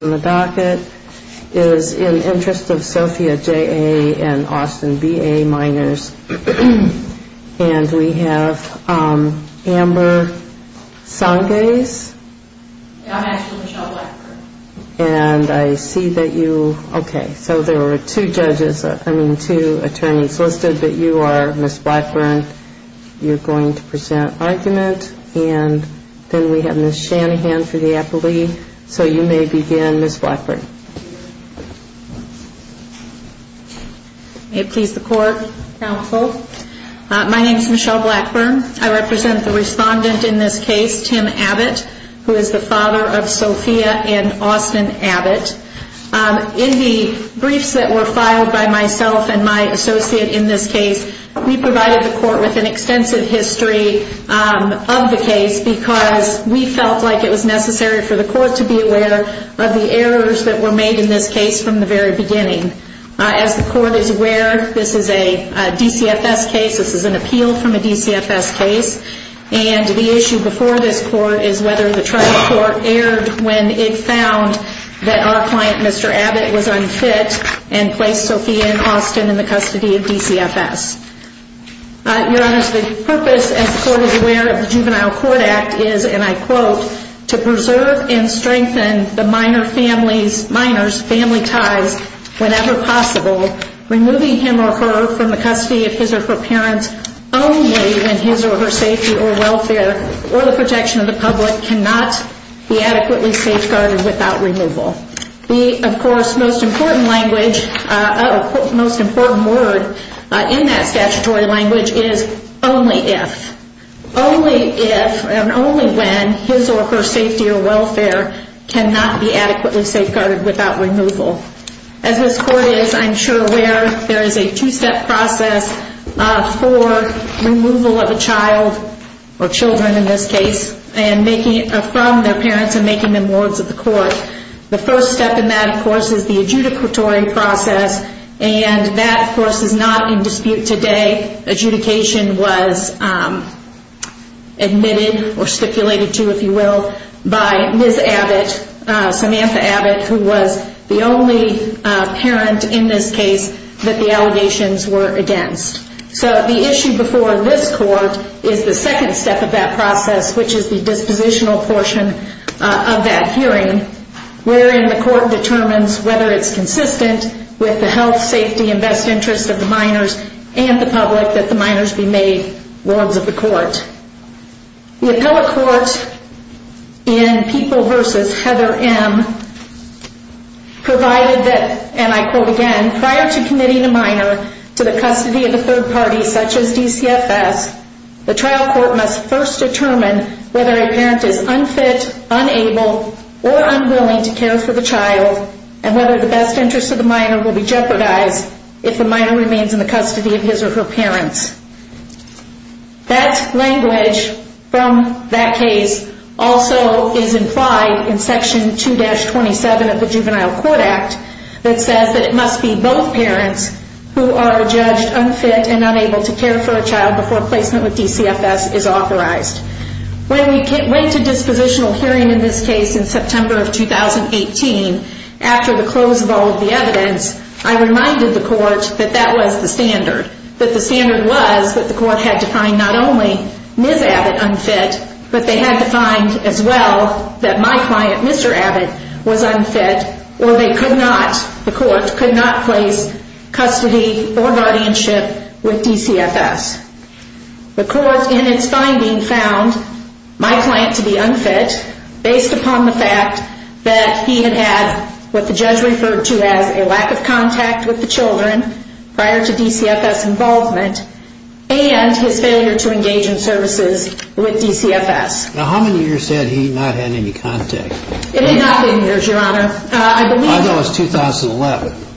and Austin B.A. minors. And we have Amber Sangez. I'm actually Michelle Blackburn. And I see that you, okay, so there were two judges, I mean two attorneys listed, but you are Miss Blackburn. You're going to present argument. And then we have Miss Shanahan for the appellee. So you may begin, Miss Blackburn. May it please the court, counsel. My name is Michelle Blackburn. I represent the respondent in this case, Tim Abbott, who is the father of Sophia and Austin Abbott. In the briefs that were filed by myself and my associate in this case, we provided the court with an extensive history of the case because we felt like it was necessary for the court to be aware of the errors that were made in this case from the very beginning. As the court is aware, this is a DCFS case. This is an appeal from a DCFS case. And the issue before this court is whether the trial court erred when it found that our client, Mr. Abbott, was unfit and placed Sophia and Austin in the custody of DCFS. Your Honor, the purpose, as the court is aware, of the Juvenile Court Act is, and I quote, to preserve and strengthen the minor's family ties whenever possible, removing him or her from the custody of his or her parents only when his or her safety or welfare or the protection of the public cannot be adequately safeguarded without removal. The, of course, most important language, most important word in that statutory language is only if. Only if and only when his or her safety or welfare cannot be adequately safeguarded without removal. As this court is, I'm sure, aware there is a two-step process for removal of a child, or children in this case, from their parents and making them Lords of the Court. The first step in that, of course, is the adjudicatory process. And that, of course, is not in dispute today. Adjudication was admitted or stipulated to, if you will, by Ms. Abbott, Samantha Abbott, who was the only parent in this case that the allegations were against. So the issue before this court is the second step of that process, which is the dispositional portion of that hearing, wherein the court determines whether it's consistent with the health, safety, and best interest of the minors and the public that the minors be made Lords of the Court. The appellate court in People v. Heather M. provided that, and I quote again, prior to committing a minor to the custody of a third party such as DCFS, the trial court must first determine whether a parent is unfit, unable, or unwilling to care for the child, and whether the best interest of the minor will be jeopardized if the minor remains in the custody of his or her parents. That language from that case also is implied in Section 2-27 of the Juvenile Court Act that says that it must be both parents who are judged unfit and unable to care for a child before placement with DCFS is authorized. When we went to dispositional hearing in this case in September of 2018, after the close of all of the evidence, I reminded the court that that was the standard, that the standard was that the court had to find not only Ms. Abbott unfit, but they had to find as well that my client, Mr. Abbott, was unfit, or they could not, the court could not place custody or guardianship with DCFS. The court in its finding found my client to be unfit based upon the fact that he had had what the judge referred to as a lack of contact with the children prior to DCFS involvement and his failure to engage in services with DCFS. Now how many years had he not had any contact? It had not been years, Your Honor. I know it was 2011.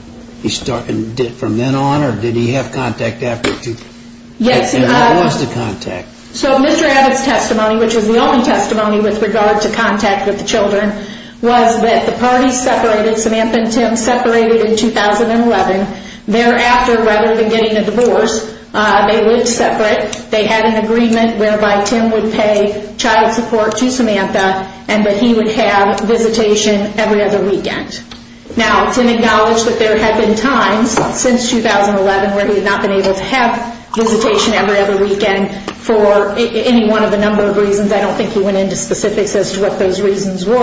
From then on, or did he have contact after? Yes, he did. And who was the contact? So Mr. Abbott's testimony, which was the only testimony with regard to contact with the children, was that the parties separated, Samantha and Tim separated in 2011. Thereafter, rather than getting a divorce, they lived separate. They had an agreement whereby Tim would pay child support to Samantha, and that he would have visitation every other weekend. Now, Tim acknowledged that there had been times since 2011 where he had not been able to have visitation every other weekend for any one of a number of reasons. I don't think he went into specifics as to what those reasons were.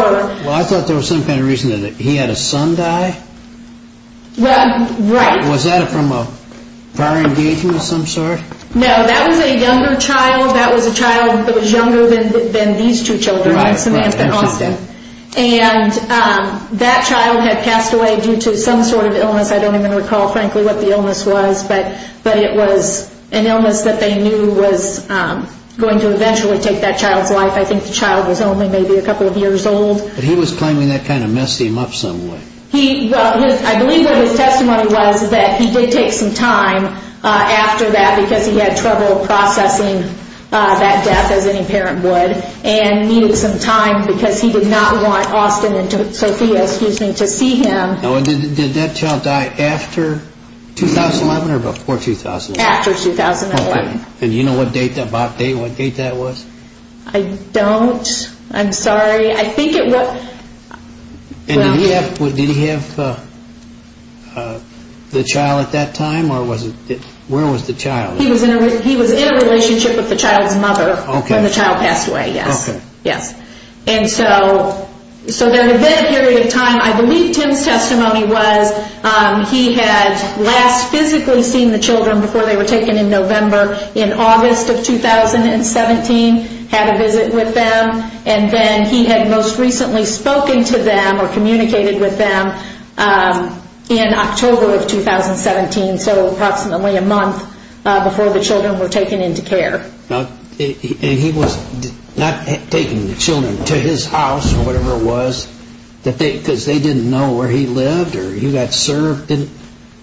Well, I thought there was some kind of reason that he had a son die. Right. Was that from a prior engagement of some sort? No, that was a younger child. That was a child that was younger than these two children and Samantha and Austin. And that child had passed away due to some sort of illness. I don't even recall, frankly, what the illness was, but it was an illness that they knew was going to eventually take that child's life. I think the child was only maybe a couple of years old. But he was claiming that kind of messed him up some way. I believe that his testimony was that he did take some time after that because he had trouble processing that death as any parent would and needed some time because he did not want Austin and Sophia, excuse me, to see him. Now, did that child die after 2011 or before 2011? After 2011. And do you know what date that was? I don't. I'm sorry. I think it was. And did he have the child at that time? Where was the child? He was in a relationship with the child's mother when the child passed away, yes. Okay. And so there had been a period of time. I believe Tim's testimony was he had last physically seen the children before they were taken in November. In August of 2017, had a visit with them. And then he had most recently spoken to them or communicated with them in October of 2017, so approximately a month before the children were taken into care. And he was not taking the children to his house or whatever it was because they didn't know where he lived or he got served.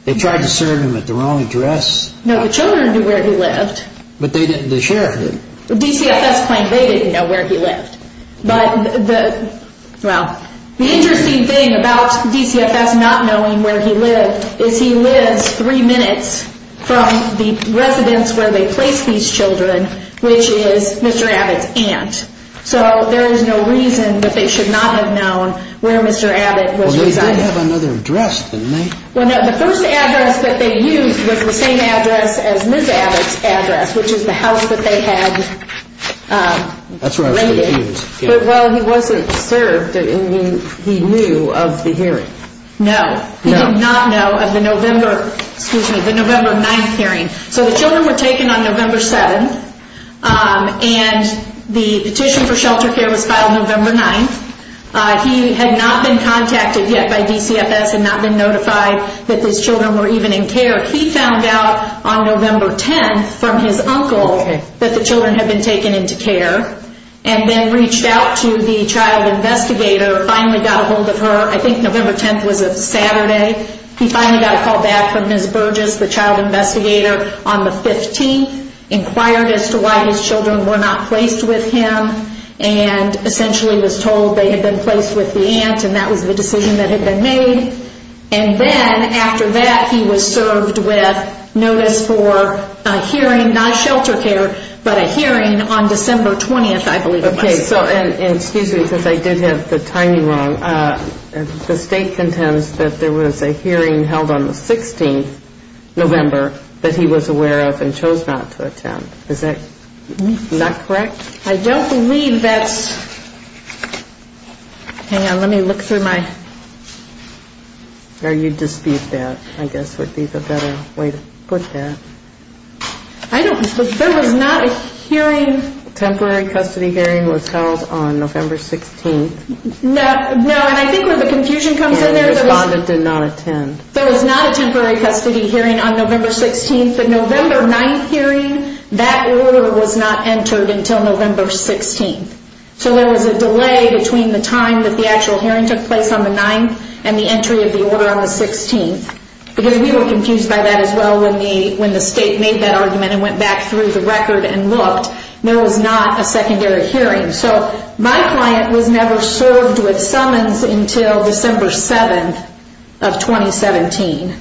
They tried to serve him at the wrong address. No, the children knew where he lived. But the sheriff didn't. DCFS claimed they didn't know where he lived. But, well, the interesting thing about DCFS not knowing where he lived is he lives three minutes from the residence where they placed these children, which is Mr. Abbott's aunt. So there is no reason that they should not have known where Mr. Abbott was residing. Well, they did have another address, didn't they? Well, no, the first address that they used was the same address as Ms. Abbott's address, which is the house that they had raided. But, well, he wasn't served and he knew of the hearing. No, he did not know of the November 9th hearing. So the children were taken on November 7th and the petition for shelter care was filed November 9th. He had not been contacted yet by DCFS and not been notified that these children were even in care. He found out on November 10th from his uncle that the children had been taken into care and then reached out to the child investigator, finally got a hold of her. I think November 10th was a Saturday. He finally got a call back from Ms. Burgess, the child investigator, on the 15th, inquired as to why his children were not placed with him and essentially was told they had been placed with the aunt and that was the decision that had been made. And then, after that, he was served with notice for a hearing, not shelter care, but a hearing on December 20th, I believe it was. Okay, and excuse me because I did have the timing wrong. The state contends that there was a hearing held on the 16th, November, that he was aware of and chose not to attend. Is that correct? I don't believe that's...hang on, let me look through my... Or you dispute that, I guess would be the better way to put that. I don't...there was not a hearing... Temporary custody hearing was held on November 16th. No, and I think where the confusion comes in there... And the respondent did not attend. There was not a temporary custody hearing on November 16th. The November 9th hearing, that order was not entered until November 16th. So there was a delay between the time that the actual hearing took place on the 9th and the entry of the order on the 16th. Because we were confused by that as well when the state made that argument and went back through the record and looked. There was not a secondary hearing. So my client was never served with summons until December 7th of 2017.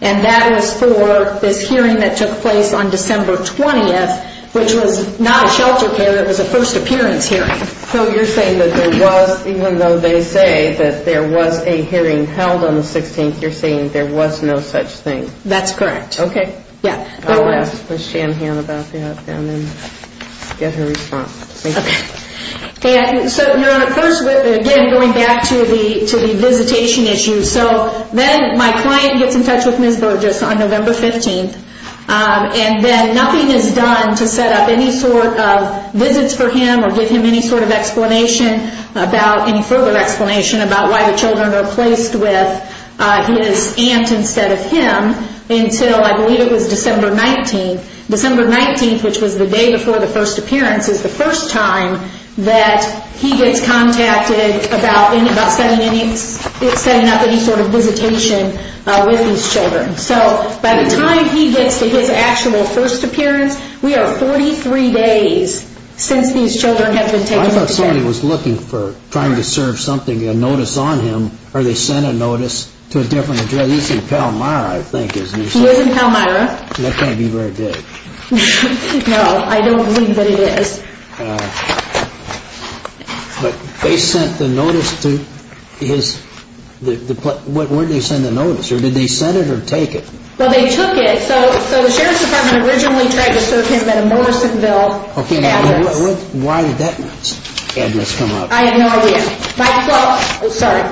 And that is for this hearing that took place on December 20th, which was not a shelter care. It was a first appearance hearing. So you're saying that there was, even though they say that there was a hearing held on the 16th, you're saying there was no such thing. That's correct. Okay. Yeah. I'll ask Ms. Shanhan about that and then get her response. Okay. So first, again, going back to the visitation issue. So then my client gets in touch with Ms. Burgess on November 15th. And then nothing is done to set up any sort of visits for him or give him any sort of explanation about any further explanation about why the children are placed with his aunt instead of him until I believe it was December 19th. December 19th, which was the day before the first appearance, is the first time that he gets contacted about setting up any sort of visitation with these children. So by the time he gets to his actual first appearance, we are 43 days since these children have been taken into care. I thought somebody was looking for trying to serve something, a notice on him, or they sent a notice to a different address. He's in Palmyra, I think, isn't he? He is in Palmyra. That can't be where it is. No, I don't believe that it is. But they sent the notice to his, where did they send the notice? Or did they send it or take it? Well, they took it. So the Sheriff's Department originally tried to serve him at a Morrisonville address. Why did that address come up? I have no idea. Well, sorry.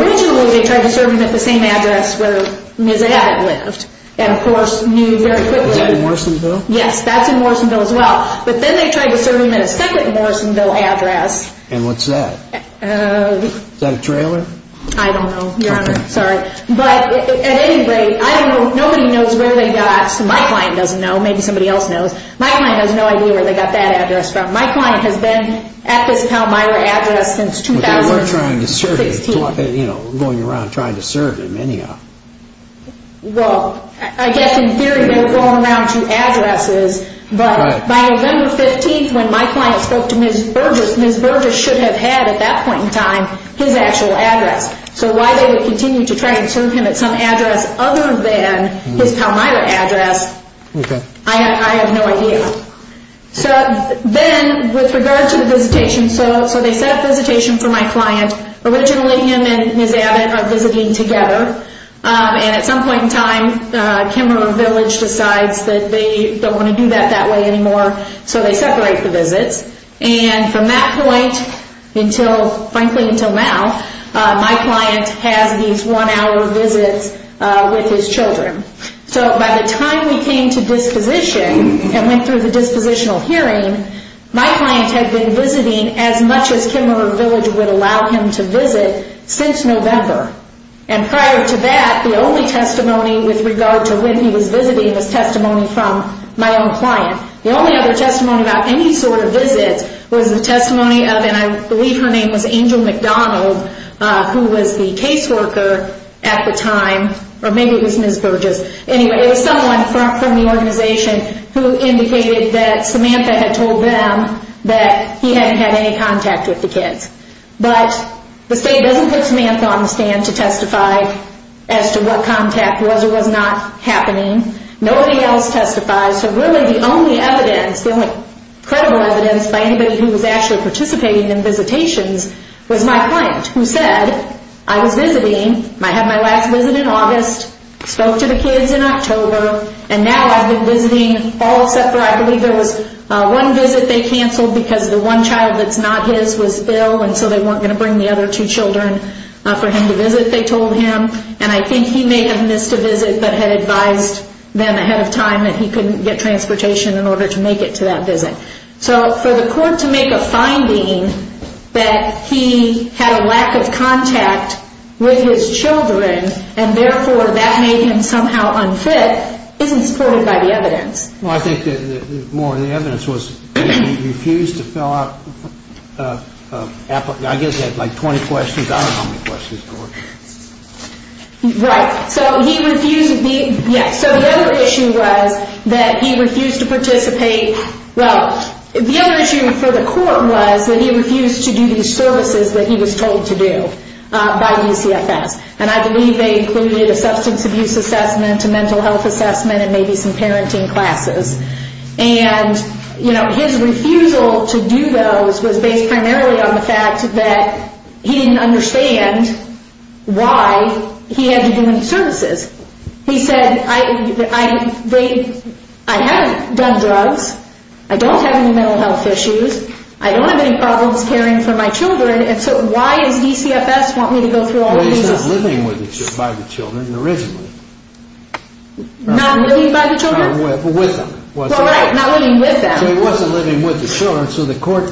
Originally they tried to serve him at the same address where Ms. Abbott lived and, of course, knew very quickly. Was that in Morrisonville? Yes, that's in Morrisonville as well. But then they tried to serve him at a second Morrisonville address. And what's that? Is that a trailer? I don't know, Your Honor. Sorry. But at any rate, I don't know. Nobody knows where they got, so my client doesn't know. Maybe somebody else knows. My client has no idea where they got that address from. My client has been at this Palmyra address since 2016. But they were trying to serve him, going around trying to serve him anyhow. Well, I guess in theory they were going around to addresses. But by November 15th when my client spoke to Ms. Burgess, Ms. Burgess should have had at that point in time his actual address. So why they would continue to try to serve him at some address other than his Palmyra address, I have no idea. So then with regard to the visitation, so they set up visitation for my client. Originally him and Ms. Abbott are visiting together. And at some point in time, Kimmerer Village decides that they don't want to do that that way anymore, so they separate the visits. And from that point until, frankly, until now, my client has these one-hour visits with his children. So by the time we came to disposition and went through the dispositional hearing, my client had been visiting as much as Kimmerer Village would allow him to visit since November. And prior to that, the only testimony with regard to when he was visiting was testimony from my own client. The only other testimony about any sort of visit was the testimony of, and I believe her name was Angel McDonald, who was the caseworker at the time. Or maybe it was Ms. Burgess. Anyway, it was someone from the organization who indicated that Samantha had told them that he hadn't had any contact with the kids. But the state doesn't put Samantha on the stand to testify as to what contact was or was not happening. Nobody else testifies. So really the only evidence, the only credible evidence, by anybody who was actually participating in visitations was my client, who said, I was visiting, I had my last visit in August, spoke to the kids in October, and now I've been visiting all except for, I believe there was one visit they canceled because the one child that's not his was ill, and so they weren't going to bring the other two children for him to visit, they told him. And I think he may have missed a visit but had advised them ahead of time that he couldn't get transportation in order to make it to that visit. So for the court to make a finding that he had a lack of contact with his children and therefore that made him somehow unfit isn't supported by the evidence. Well, I think more of the evidence was he refused to fill out, I guess he had like 20 questions, I don't know how many questions there were. Right. So the other issue was that he refused to participate, well, the other issue for the court was that he refused to do these services that he was told to do by UCFS. And I believe they included a substance abuse assessment, a mental health assessment, and maybe some parenting classes. And his refusal to do those was based primarily on the fact that he didn't understand why he had to do any services. He said, I haven't done drugs, I don't have any mental health issues, I don't have any problems caring for my children, and so why does UCFS want me to go through all this? Well, he's not living by the children originally. Not living by the children? With them. Well, right, not living with them. So he wasn't living with the children, so the court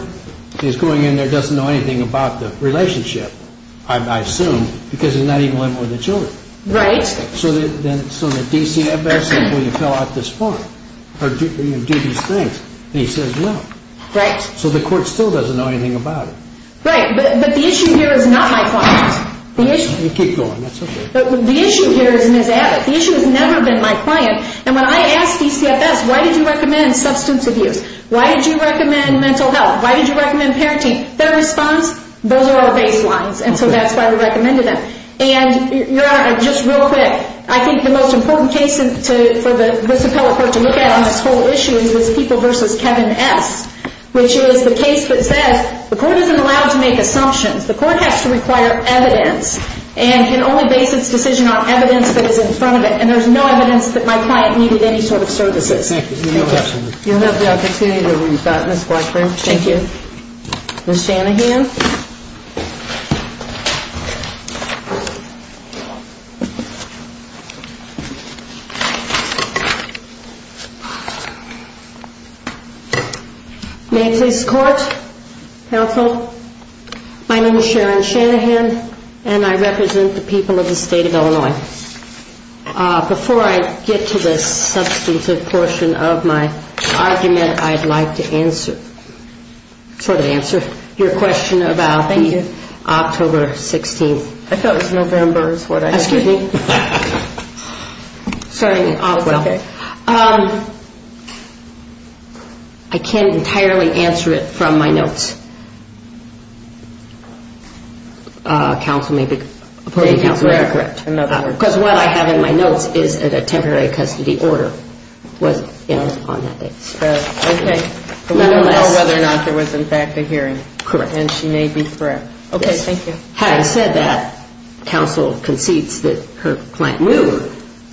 is going in there doesn't know anything about the relationship. I assume, because he's not even living with the children. Right. So the DCFS is going to fill out this form, or do these things, and he says no. Right. So the court still doesn't know anything about it. Right, but the issue here is not my client. Keep going, that's okay. The issue here is Ms. Abbott, the issue has never been my client, and when I asked DCFS, why did you recommend substance abuse? Why did you recommend mental health? Why did you recommend parenting? Their response, those are our baselines, and so that's why we recommended them. And, Your Honor, just real quick, I think the most important case for this appellate court to look at on this whole issue is people versus Kevin S., which is the case that says the court isn't allowed to make assumptions. The court has to require evidence and can only base its decision on evidence that is in front of it, and there's no evidence that my client needed any sort of services. Thank you. You'll have the opportunity to respond, Ms. Blackburn. Thank you. Ms. Shanahan. May it please the court, counsel, my name is Sharon Shanahan, and I represent the people of the state of Illinois. Before I get to the substantive portion of my argument, I'd like to answer, sort of answer, your question about the October 16th. I thought it was November is what I heard. Excuse me. Sorry. It's okay. I can't entirely answer it from my notes. Counsel may be correct. Because what I have in my notes is that a temporary custody order was, you know, on that day. Okay. But we don't know whether or not there was, in fact, a hearing. Correct. And she may be correct. Okay. Thank you. Having said that, counsel concedes that her client knew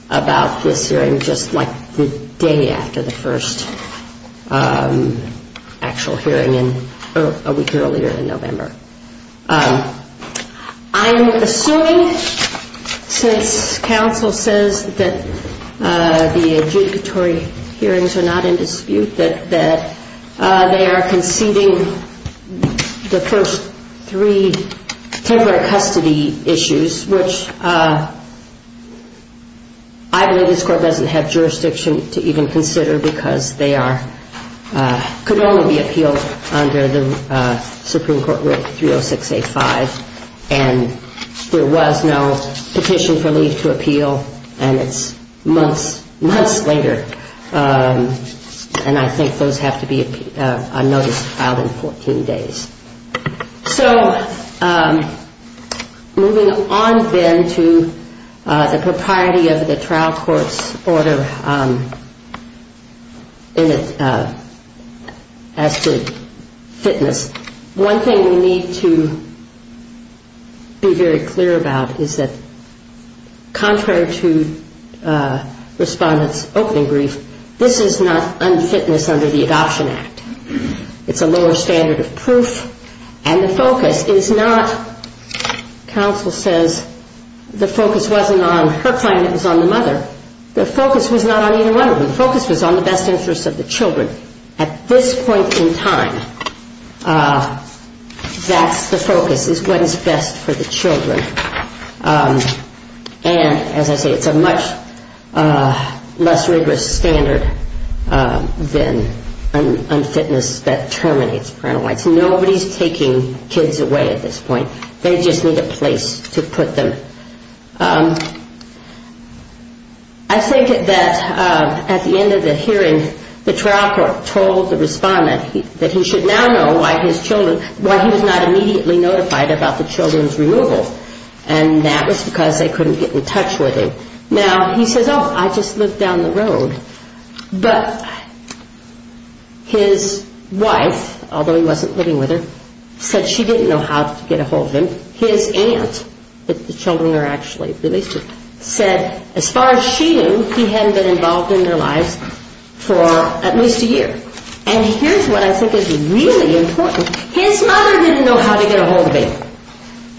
about this hearing just like the day after the first actual hearing a week earlier in November. I'm assuming since counsel says that the adjudicatory hearings are not in dispute, that they are conceding the first three temporary custody issues, which I believe this court doesn't have jurisdiction to even consider because they could only be appealed under the Supreme Court Rule 306A5. And there was no petition for leave to appeal, and it's months later. And I think those have to be on notice filed in 14 days. So moving on then to the propriety of the trial court's order as to fitness, one thing we need to be very clear about is that, contrary to respondents' opening brief, this is not unfitness under the Adoption Act. It's a lower standard of proof, and the focus is not, counsel says, the focus wasn't on her client, it was on the mother. The focus was not on either one of them. The focus was on the best interest of the children. At this point in time, that's the focus, is what is best for the children. And as I say, it's a much less rigorous standard than unfitness that terminates parental rights. Nobody's taking kids away at this point. They just need a place to put them. I think that at the end of the hearing, the trial court told the respondent that he should now know why he was not immediately notified about the children's removal, and that was because they couldn't get in touch with him. Now, he says, oh, I just lived down the road. But his wife, although he wasn't living with her, said she didn't know how to get ahold of him. His aunt, the children are actually released, said as far as she knew, he hadn't been involved in their lives for at least a year. And here's what I think is really important. His mother didn't know how to get ahold of him.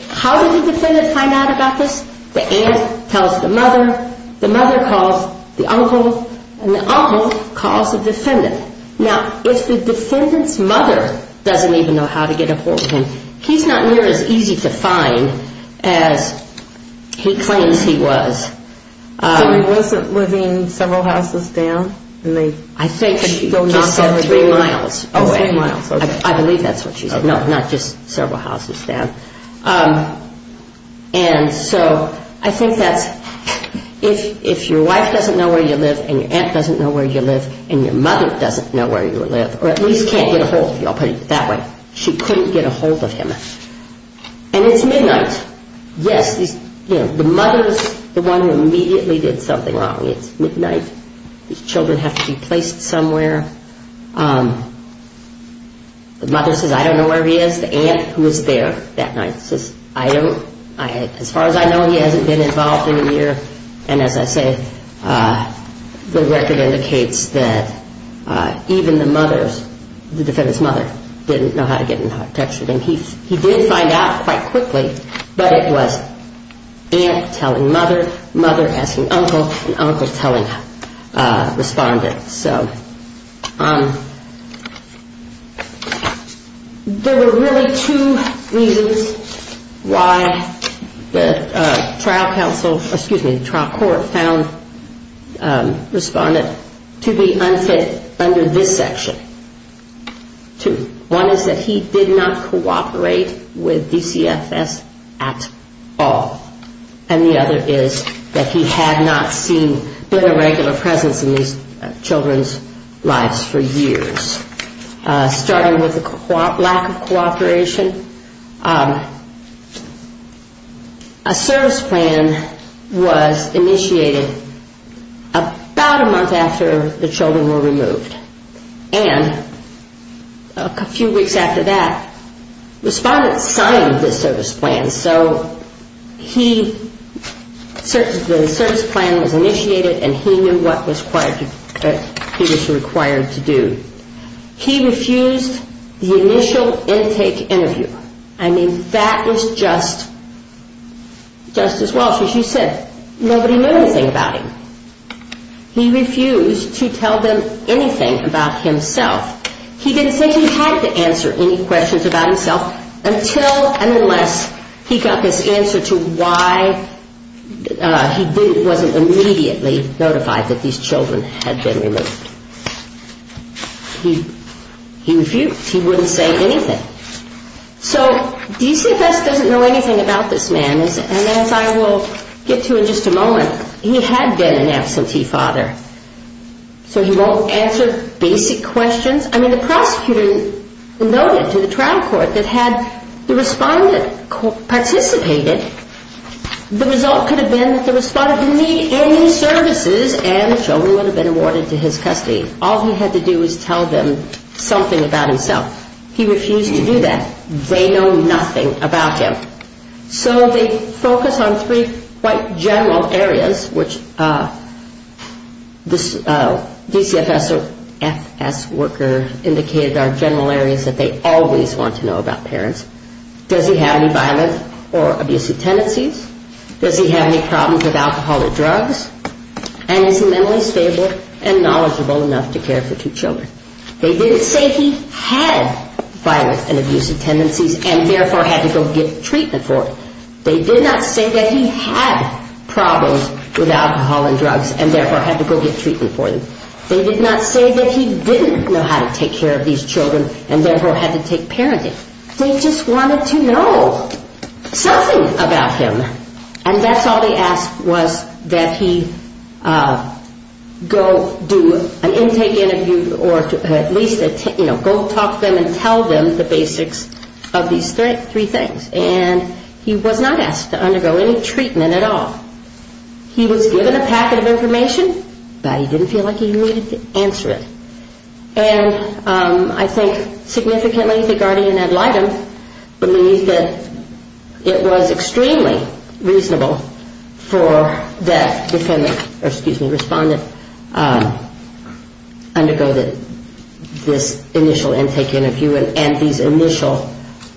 How did the defendant find out about this? The aunt tells the mother, the mother calls the uncle, and the uncle calls the defendant. Now, if the defendant's mother doesn't even know how to get ahold of him, he's not near as easy to find as he claims he was. So he wasn't living several houses down? I think she just said three miles away. Oh, three miles. I believe that's what she said. No, not just several houses down. And so I think that's, if your wife doesn't know where you live, and your aunt doesn't know where you live, and your mother doesn't know where you live, or at least can't get ahold of you, I'll put it that way, she couldn't get ahold of him. And it's midnight. Yes, the mother's the one who immediately did something wrong. It's midnight. His children have to be placed somewhere. The mother says, I don't know where he is. The aunt, who was there that night, says, I don't. As far as I know, he hasn't been involved in a year. And as I say, the record indicates that even the mother's, the defendant's mother, didn't know how to get in touch with him. He did find out quite quickly, but it was aunt telling mother, mother asking uncle, and uncle telling respondent. So there were really two reasons why the trial court found respondent to be unfit under this section. One is that he did not cooperate with DCFS at all. And the other is that he had not seen a regular presence in these children's lives for years. Starting with the lack of cooperation, a service plan was initiated about a month after the children were removed. And a few weeks after that, respondent signed the service plan. So the service plan was initiated, and he knew what he was required to do. He refused the initial intake interview. I mean, that was just as well. So she said, nobody knew anything about him. He refused to tell them anything about himself. He didn't say he had to answer any questions about himself until and unless he got this answer to why he wasn't immediately notified that these children had been removed. He refused. He wouldn't say anything. So DCFS doesn't know anything about this man, and as I will get to in just a moment, he had been an absentee father, so he won't answer basic questions. I mean, the prosecutor noted to the trial court that had the respondent participated, the result could have been that the respondent didn't need any services and the children would have been awarded to his custody. All he had to do was tell them something about himself. He refused to do that. They know nothing about him. So they focus on three quite general areas, which this DCFS worker indicated are general areas that they always want to know about parents. Does he have any violent or abusive tendencies? Does he have any problems with alcohol or drugs? And is he mentally stable and knowledgeable enough to care for two children? They didn't say he had violent and abusive tendencies and therefore had to go get treatment for it. They did not say that he had problems with alcohol and drugs and therefore had to go get treatment for them. They did not say that he didn't know how to take care of these children and therefore had to take parenting. They just wanted to know something about him, And that's all they asked was that he go do an intake interview or at least go talk to them and tell them the basics of these three things. And he was not asked to undergo any treatment at all. He was given a packet of information, but he didn't feel like he needed to answer it. And I think significantly the guardian ad litem believed that it was extremely reasonable for that respondent to undergo this initial intake interview and these initial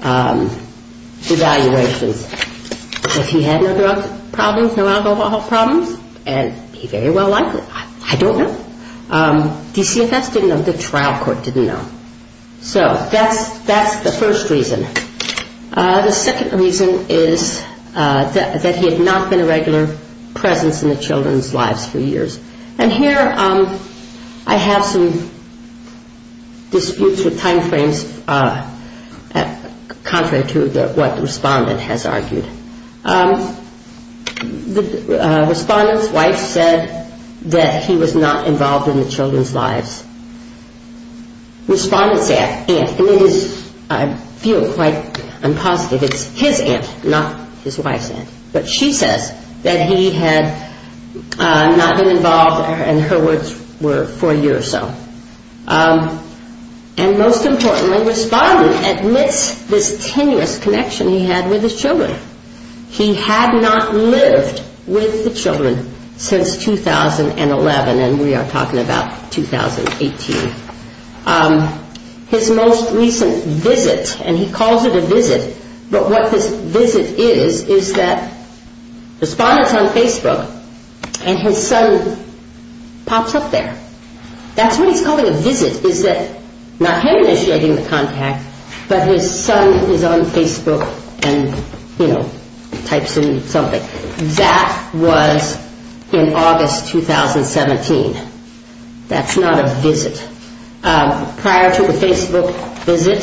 evaluations. If he had no drug problems, no alcohol problems, and he very well likely, I don't know, DCFS didn't know, the trial court didn't know. So that's the first reason. The second reason is that he had not been a regular presence in the children's lives for years. And here I have some disputes with time frames contrary to what the respondent has argued. The respondent's wife said that he was not involved in the children's lives. Respondent's aunt, and it is, I feel quite unpositive, it's his aunt, not his wife's aunt, but she says that he had not been involved, and her words were, for a year or so. And most importantly, respondent admits this tenuous connection he had with his children. He had not lived with the children since 2011, and we are talking about 2018. His most recent visit, and he calls it a visit, but what this visit is, is that respondent's on Facebook, and his son pops up there. That's what he's calling a visit, is that not him initiating the contact, but his son is on Facebook and types in something. That was in August 2017. That's not a visit. Prior to the Facebook visit,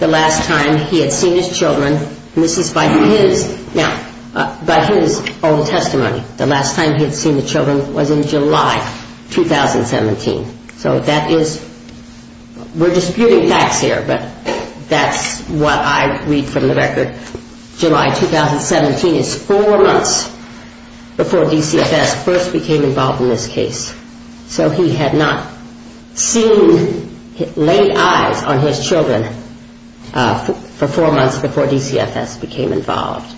the last time he had seen his children, and this is by his own testimony, the last time he had seen the children was in July 2017. So that is, we're disputing facts here, but that's what I read from the record. July 2017 is four months before DCFS first became involved in this case. So he had not seen, laid eyes on his children for four months before DCFS became involved.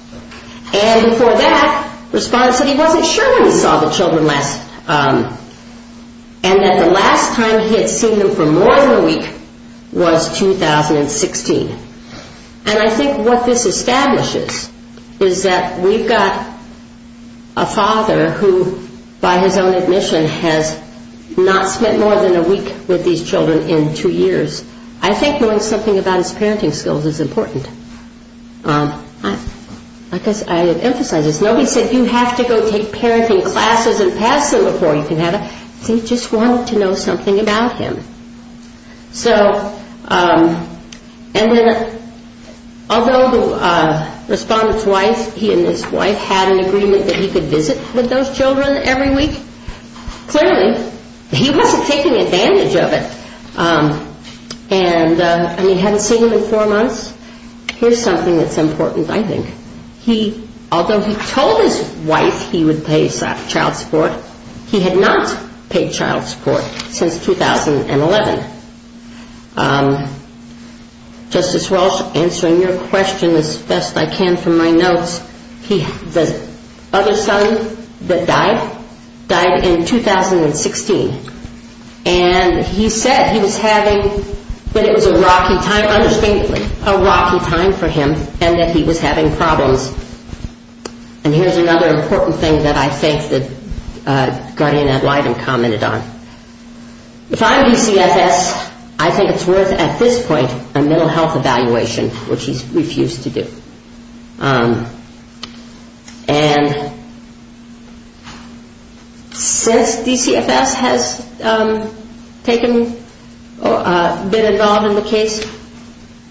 And before that, respondent said he wasn't sure when he saw the children last, and that the last time he had seen them for more than a week was 2016. And I think what this establishes is that we've got a father who, by his own admission, has not spent more than a week with these children in two years. I think knowing something about his parenting skills is important. I emphasize this. Nobody said you have to go take parenting classes and pass them before you can have a... They just wanted to know something about him. So, and then, although the respondent's wife, he and his wife, had an agreement that he could visit with those children every week, clearly, he wasn't taking advantage of it. And he hadn't seen them in four months. Here's something that's important, I think. Although he told his wife he would pay child support, he had not paid child support since 2011. Justice Walsh, answering your question as best I can from my notes, the other son that died, died in 2016. And he said he was having, that it was a rocky time, understandably, a rocky time for him, and that he was having problems. And here's another important thing that I think that Guardian Ed Wyden commented on. If I'm DCFS, I think it's worth, at this point, a mental health evaluation, which he's refused to do. And since DCFS has taken, been involved in the case,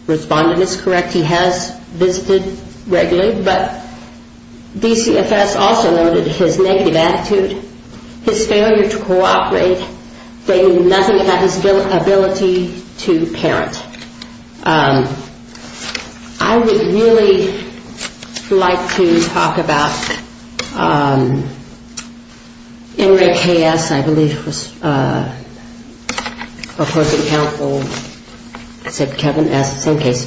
respondent is correct, he has visited regularly, but DCFS also noted his negative attitude, his failure to cooperate, they knew nothing about his ability to parent. I would really like to talk about NRAKS, I believe it was opposing counsel, except Kevin asked the same case,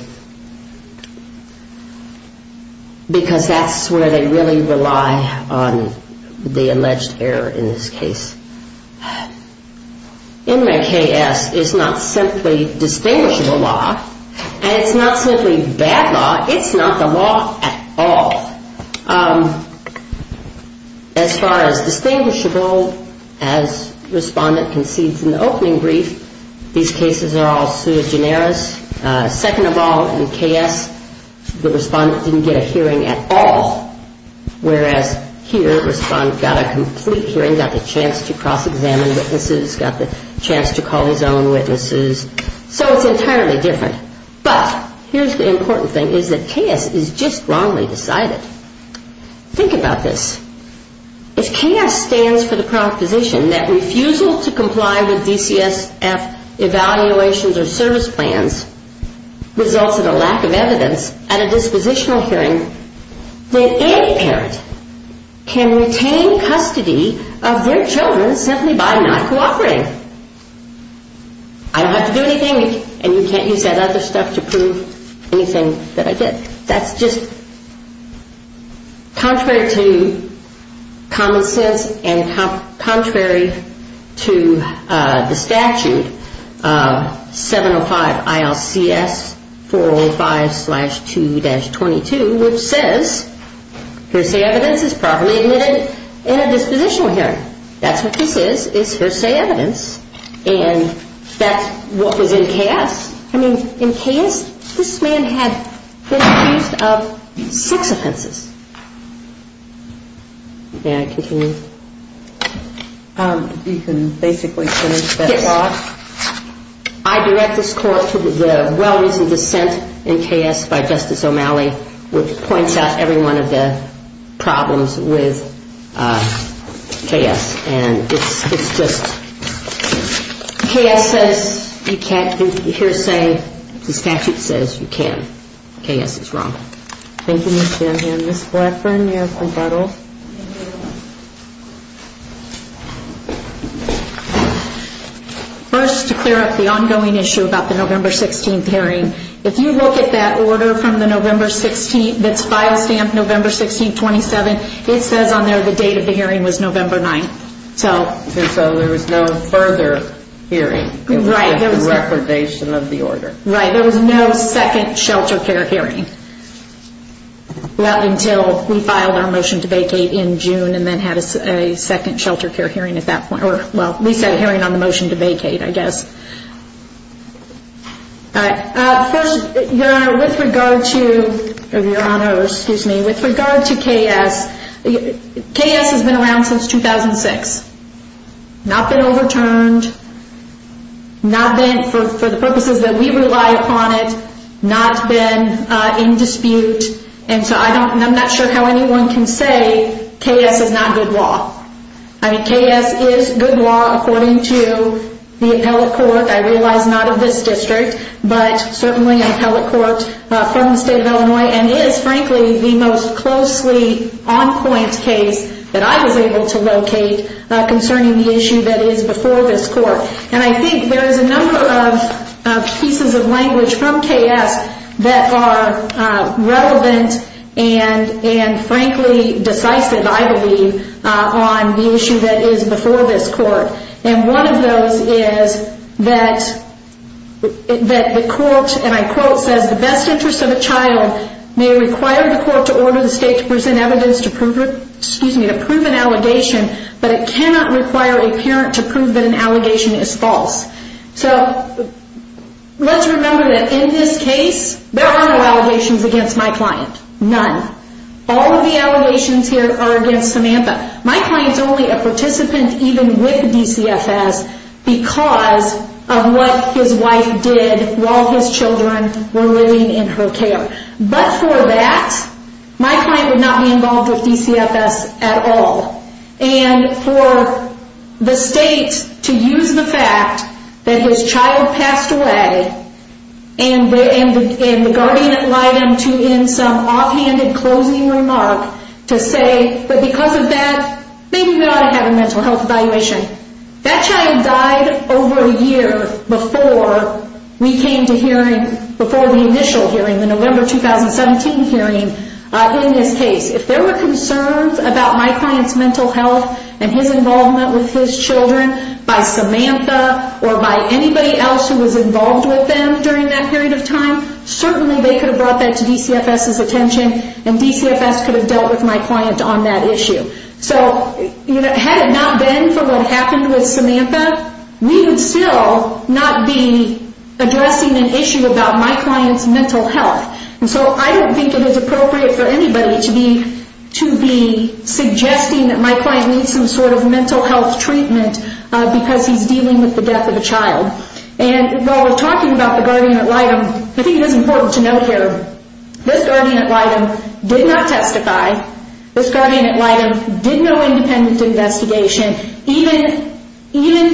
because that's where they really rely on the alleged error in this case. NRAKS is not simply distinguishable law, and it's not simply bad law, it's not the law at all. As far as distinguishable, as respondent concedes in the opening brief, these cases are all sui generis. Second of all, in KS, the respondent didn't get a hearing at all, whereas here, respondent got a complete hearing, got the chance to cross-examine witnesses, got the chance to call his own witnesses. So it's entirely different. But here's the important thing, is that KS is just wrongly decided. Think about this. If KS stands for the proposition that refusal to comply with DCSF evaluations or service plans results in a lack of evidence at a dispositional hearing, then any parent can retain custody of their children simply by not cooperating. I don't have to do anything, and you can't use that other stuff to prove anything that I did. That's just contrary to common sense and contrary to the statute, 705 ILCS 405-2-22, which says hearsay evidence is properly admitted in a dispositional hearing. That's what this is, is hearsay evidence, and that's what was in KS. I mean, in KS, this man had been accused of six offenses. May I continue? You can basically finish that law. Yes. I direct this Court to the well-reasoned dissent in KS by Justice O'Malley, which points out every one of the problems with KS. And it's just KS says you can't use hearsay. The statute says you can. KS is wrong. Thank you, Ms. Dunham. Ms. Blackburn, you're rebuttal. First, to clear up the ongoing issue about the November 16th hearing, if you look at that order from the November 16th that's file stamped November 16, 27, it says on there the date of the hearing was November 9th. And so there was no further hearing. Right. It was a recordation of the order. Right. There was no second shelter care hearing until we filed our motion to vacate in June and then had a second shelter care hearing at that point. Well, we said hearing on the motion to vacate, I guess. All right. First, Your Honor, with regard to KS, KS has been around since 2006. Not been overturned. Not been, for the purposes that we rely upon it, not been in dispute. And so I'm not sure how anyone can say KS is not good law. I mean, KS is good law according to the appellate court, I realize not of this district, but certainly an appellate court from the state of Illinois and is frankly the most closely on point case that I was able to locate concerning the issue that is before this court. And I think there is a number of pieces of language from KS that are relevant and frankly decisive, I believe, on the issue that is before this court. And one of those is that the court, and I quote, says, the best interest of a child may require the court to order the state to present evidence to prove an allegation, but it cannot require a parent to prove that an allegation is false. So let's remember that in this case, there are no allegations against my client, none. All of the allegations here are against Samantha. My client is only a participant even with DCFS because of what his wife did while his children were living in her care. But for that, my client would not be involved with DCFS at all. And for the state to use the fact that his child passed away and the guardian had lied to him in some offhanded closing remark to say that because of that, maybe we ought to have a mental health evaluation. That child died over a year before we came to hearing, before the initial hearing, the November 2017 hearing in this case. If there were concerns about my client's mental health and his involvement with his children by Samantha or by anybody else who was involved with them during that period of time, certainly they could have brought that to DCFS's attention and DCFS could have dealt with my client on that issue. So had it not been for what happened with Samantha, we would still not be addressing an issue about my client's mental health. And so I don't think it is appropriate for anybody to be suggesting that my client needs some sort of mental health treatment because he's dealing with the death of a child. And while we're talking about the guardian ad litem, I think it is important to note here, this guardian ad litem did not testify. This guardian ad litem did no independent investigation, even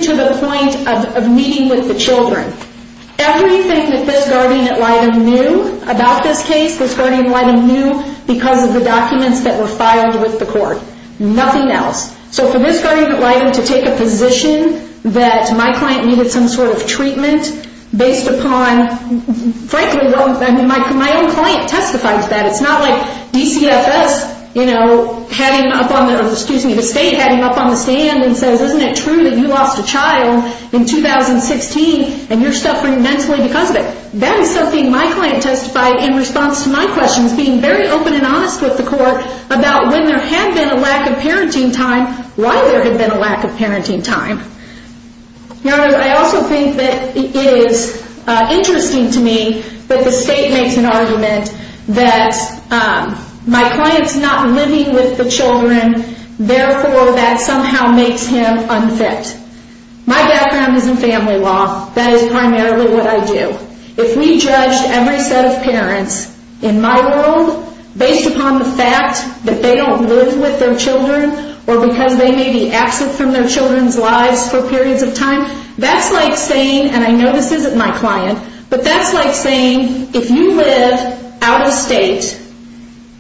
to the point of meeting with the children. Everything that this guardian ad litem knew about this case, this guardian ad litem knew because of the documents that were filed with the court. Nothing else. So for this guardian ad litem to take a position that my client needed some sort of treatment based upon, frankly, my own client testified to that. It's not like DCFS had him up on the, excuse me, the state had him up on the stand and said, well, isn't it true that you lost a child in 2016 and you're suffering mentally because of it? That is something my client testified in response to my questions, being very open and honest with the court about when there had been a lack of parenting time, why there had been a lack of parenting time. Your Honor, I also think that it is interesting to me that the state makes an argument that my client's not living with the children, therefore that somehow makes him unfit. My background is in family law. That is primarily what I do. If we judged every set of parents in my world based upon the fact that they don't live with their children or because they may be absent from their children's lives for periods of time, that's like saying, and I know this isn't my client, but that's like saying if you live out of state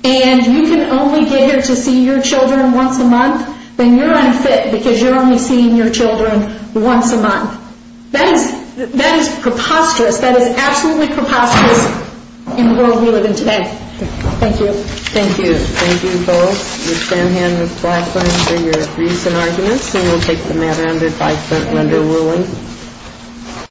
and you can only get here to see your children once a month, then you're unfit because you're only seeing your children once a month. That is preposterous. That is absolutely preposterous in the world we live in today. Thank you. Thank you. Thank you both. We stand here in the platform for your briefs and arguments and we'll take the matter under five-minute window ruling.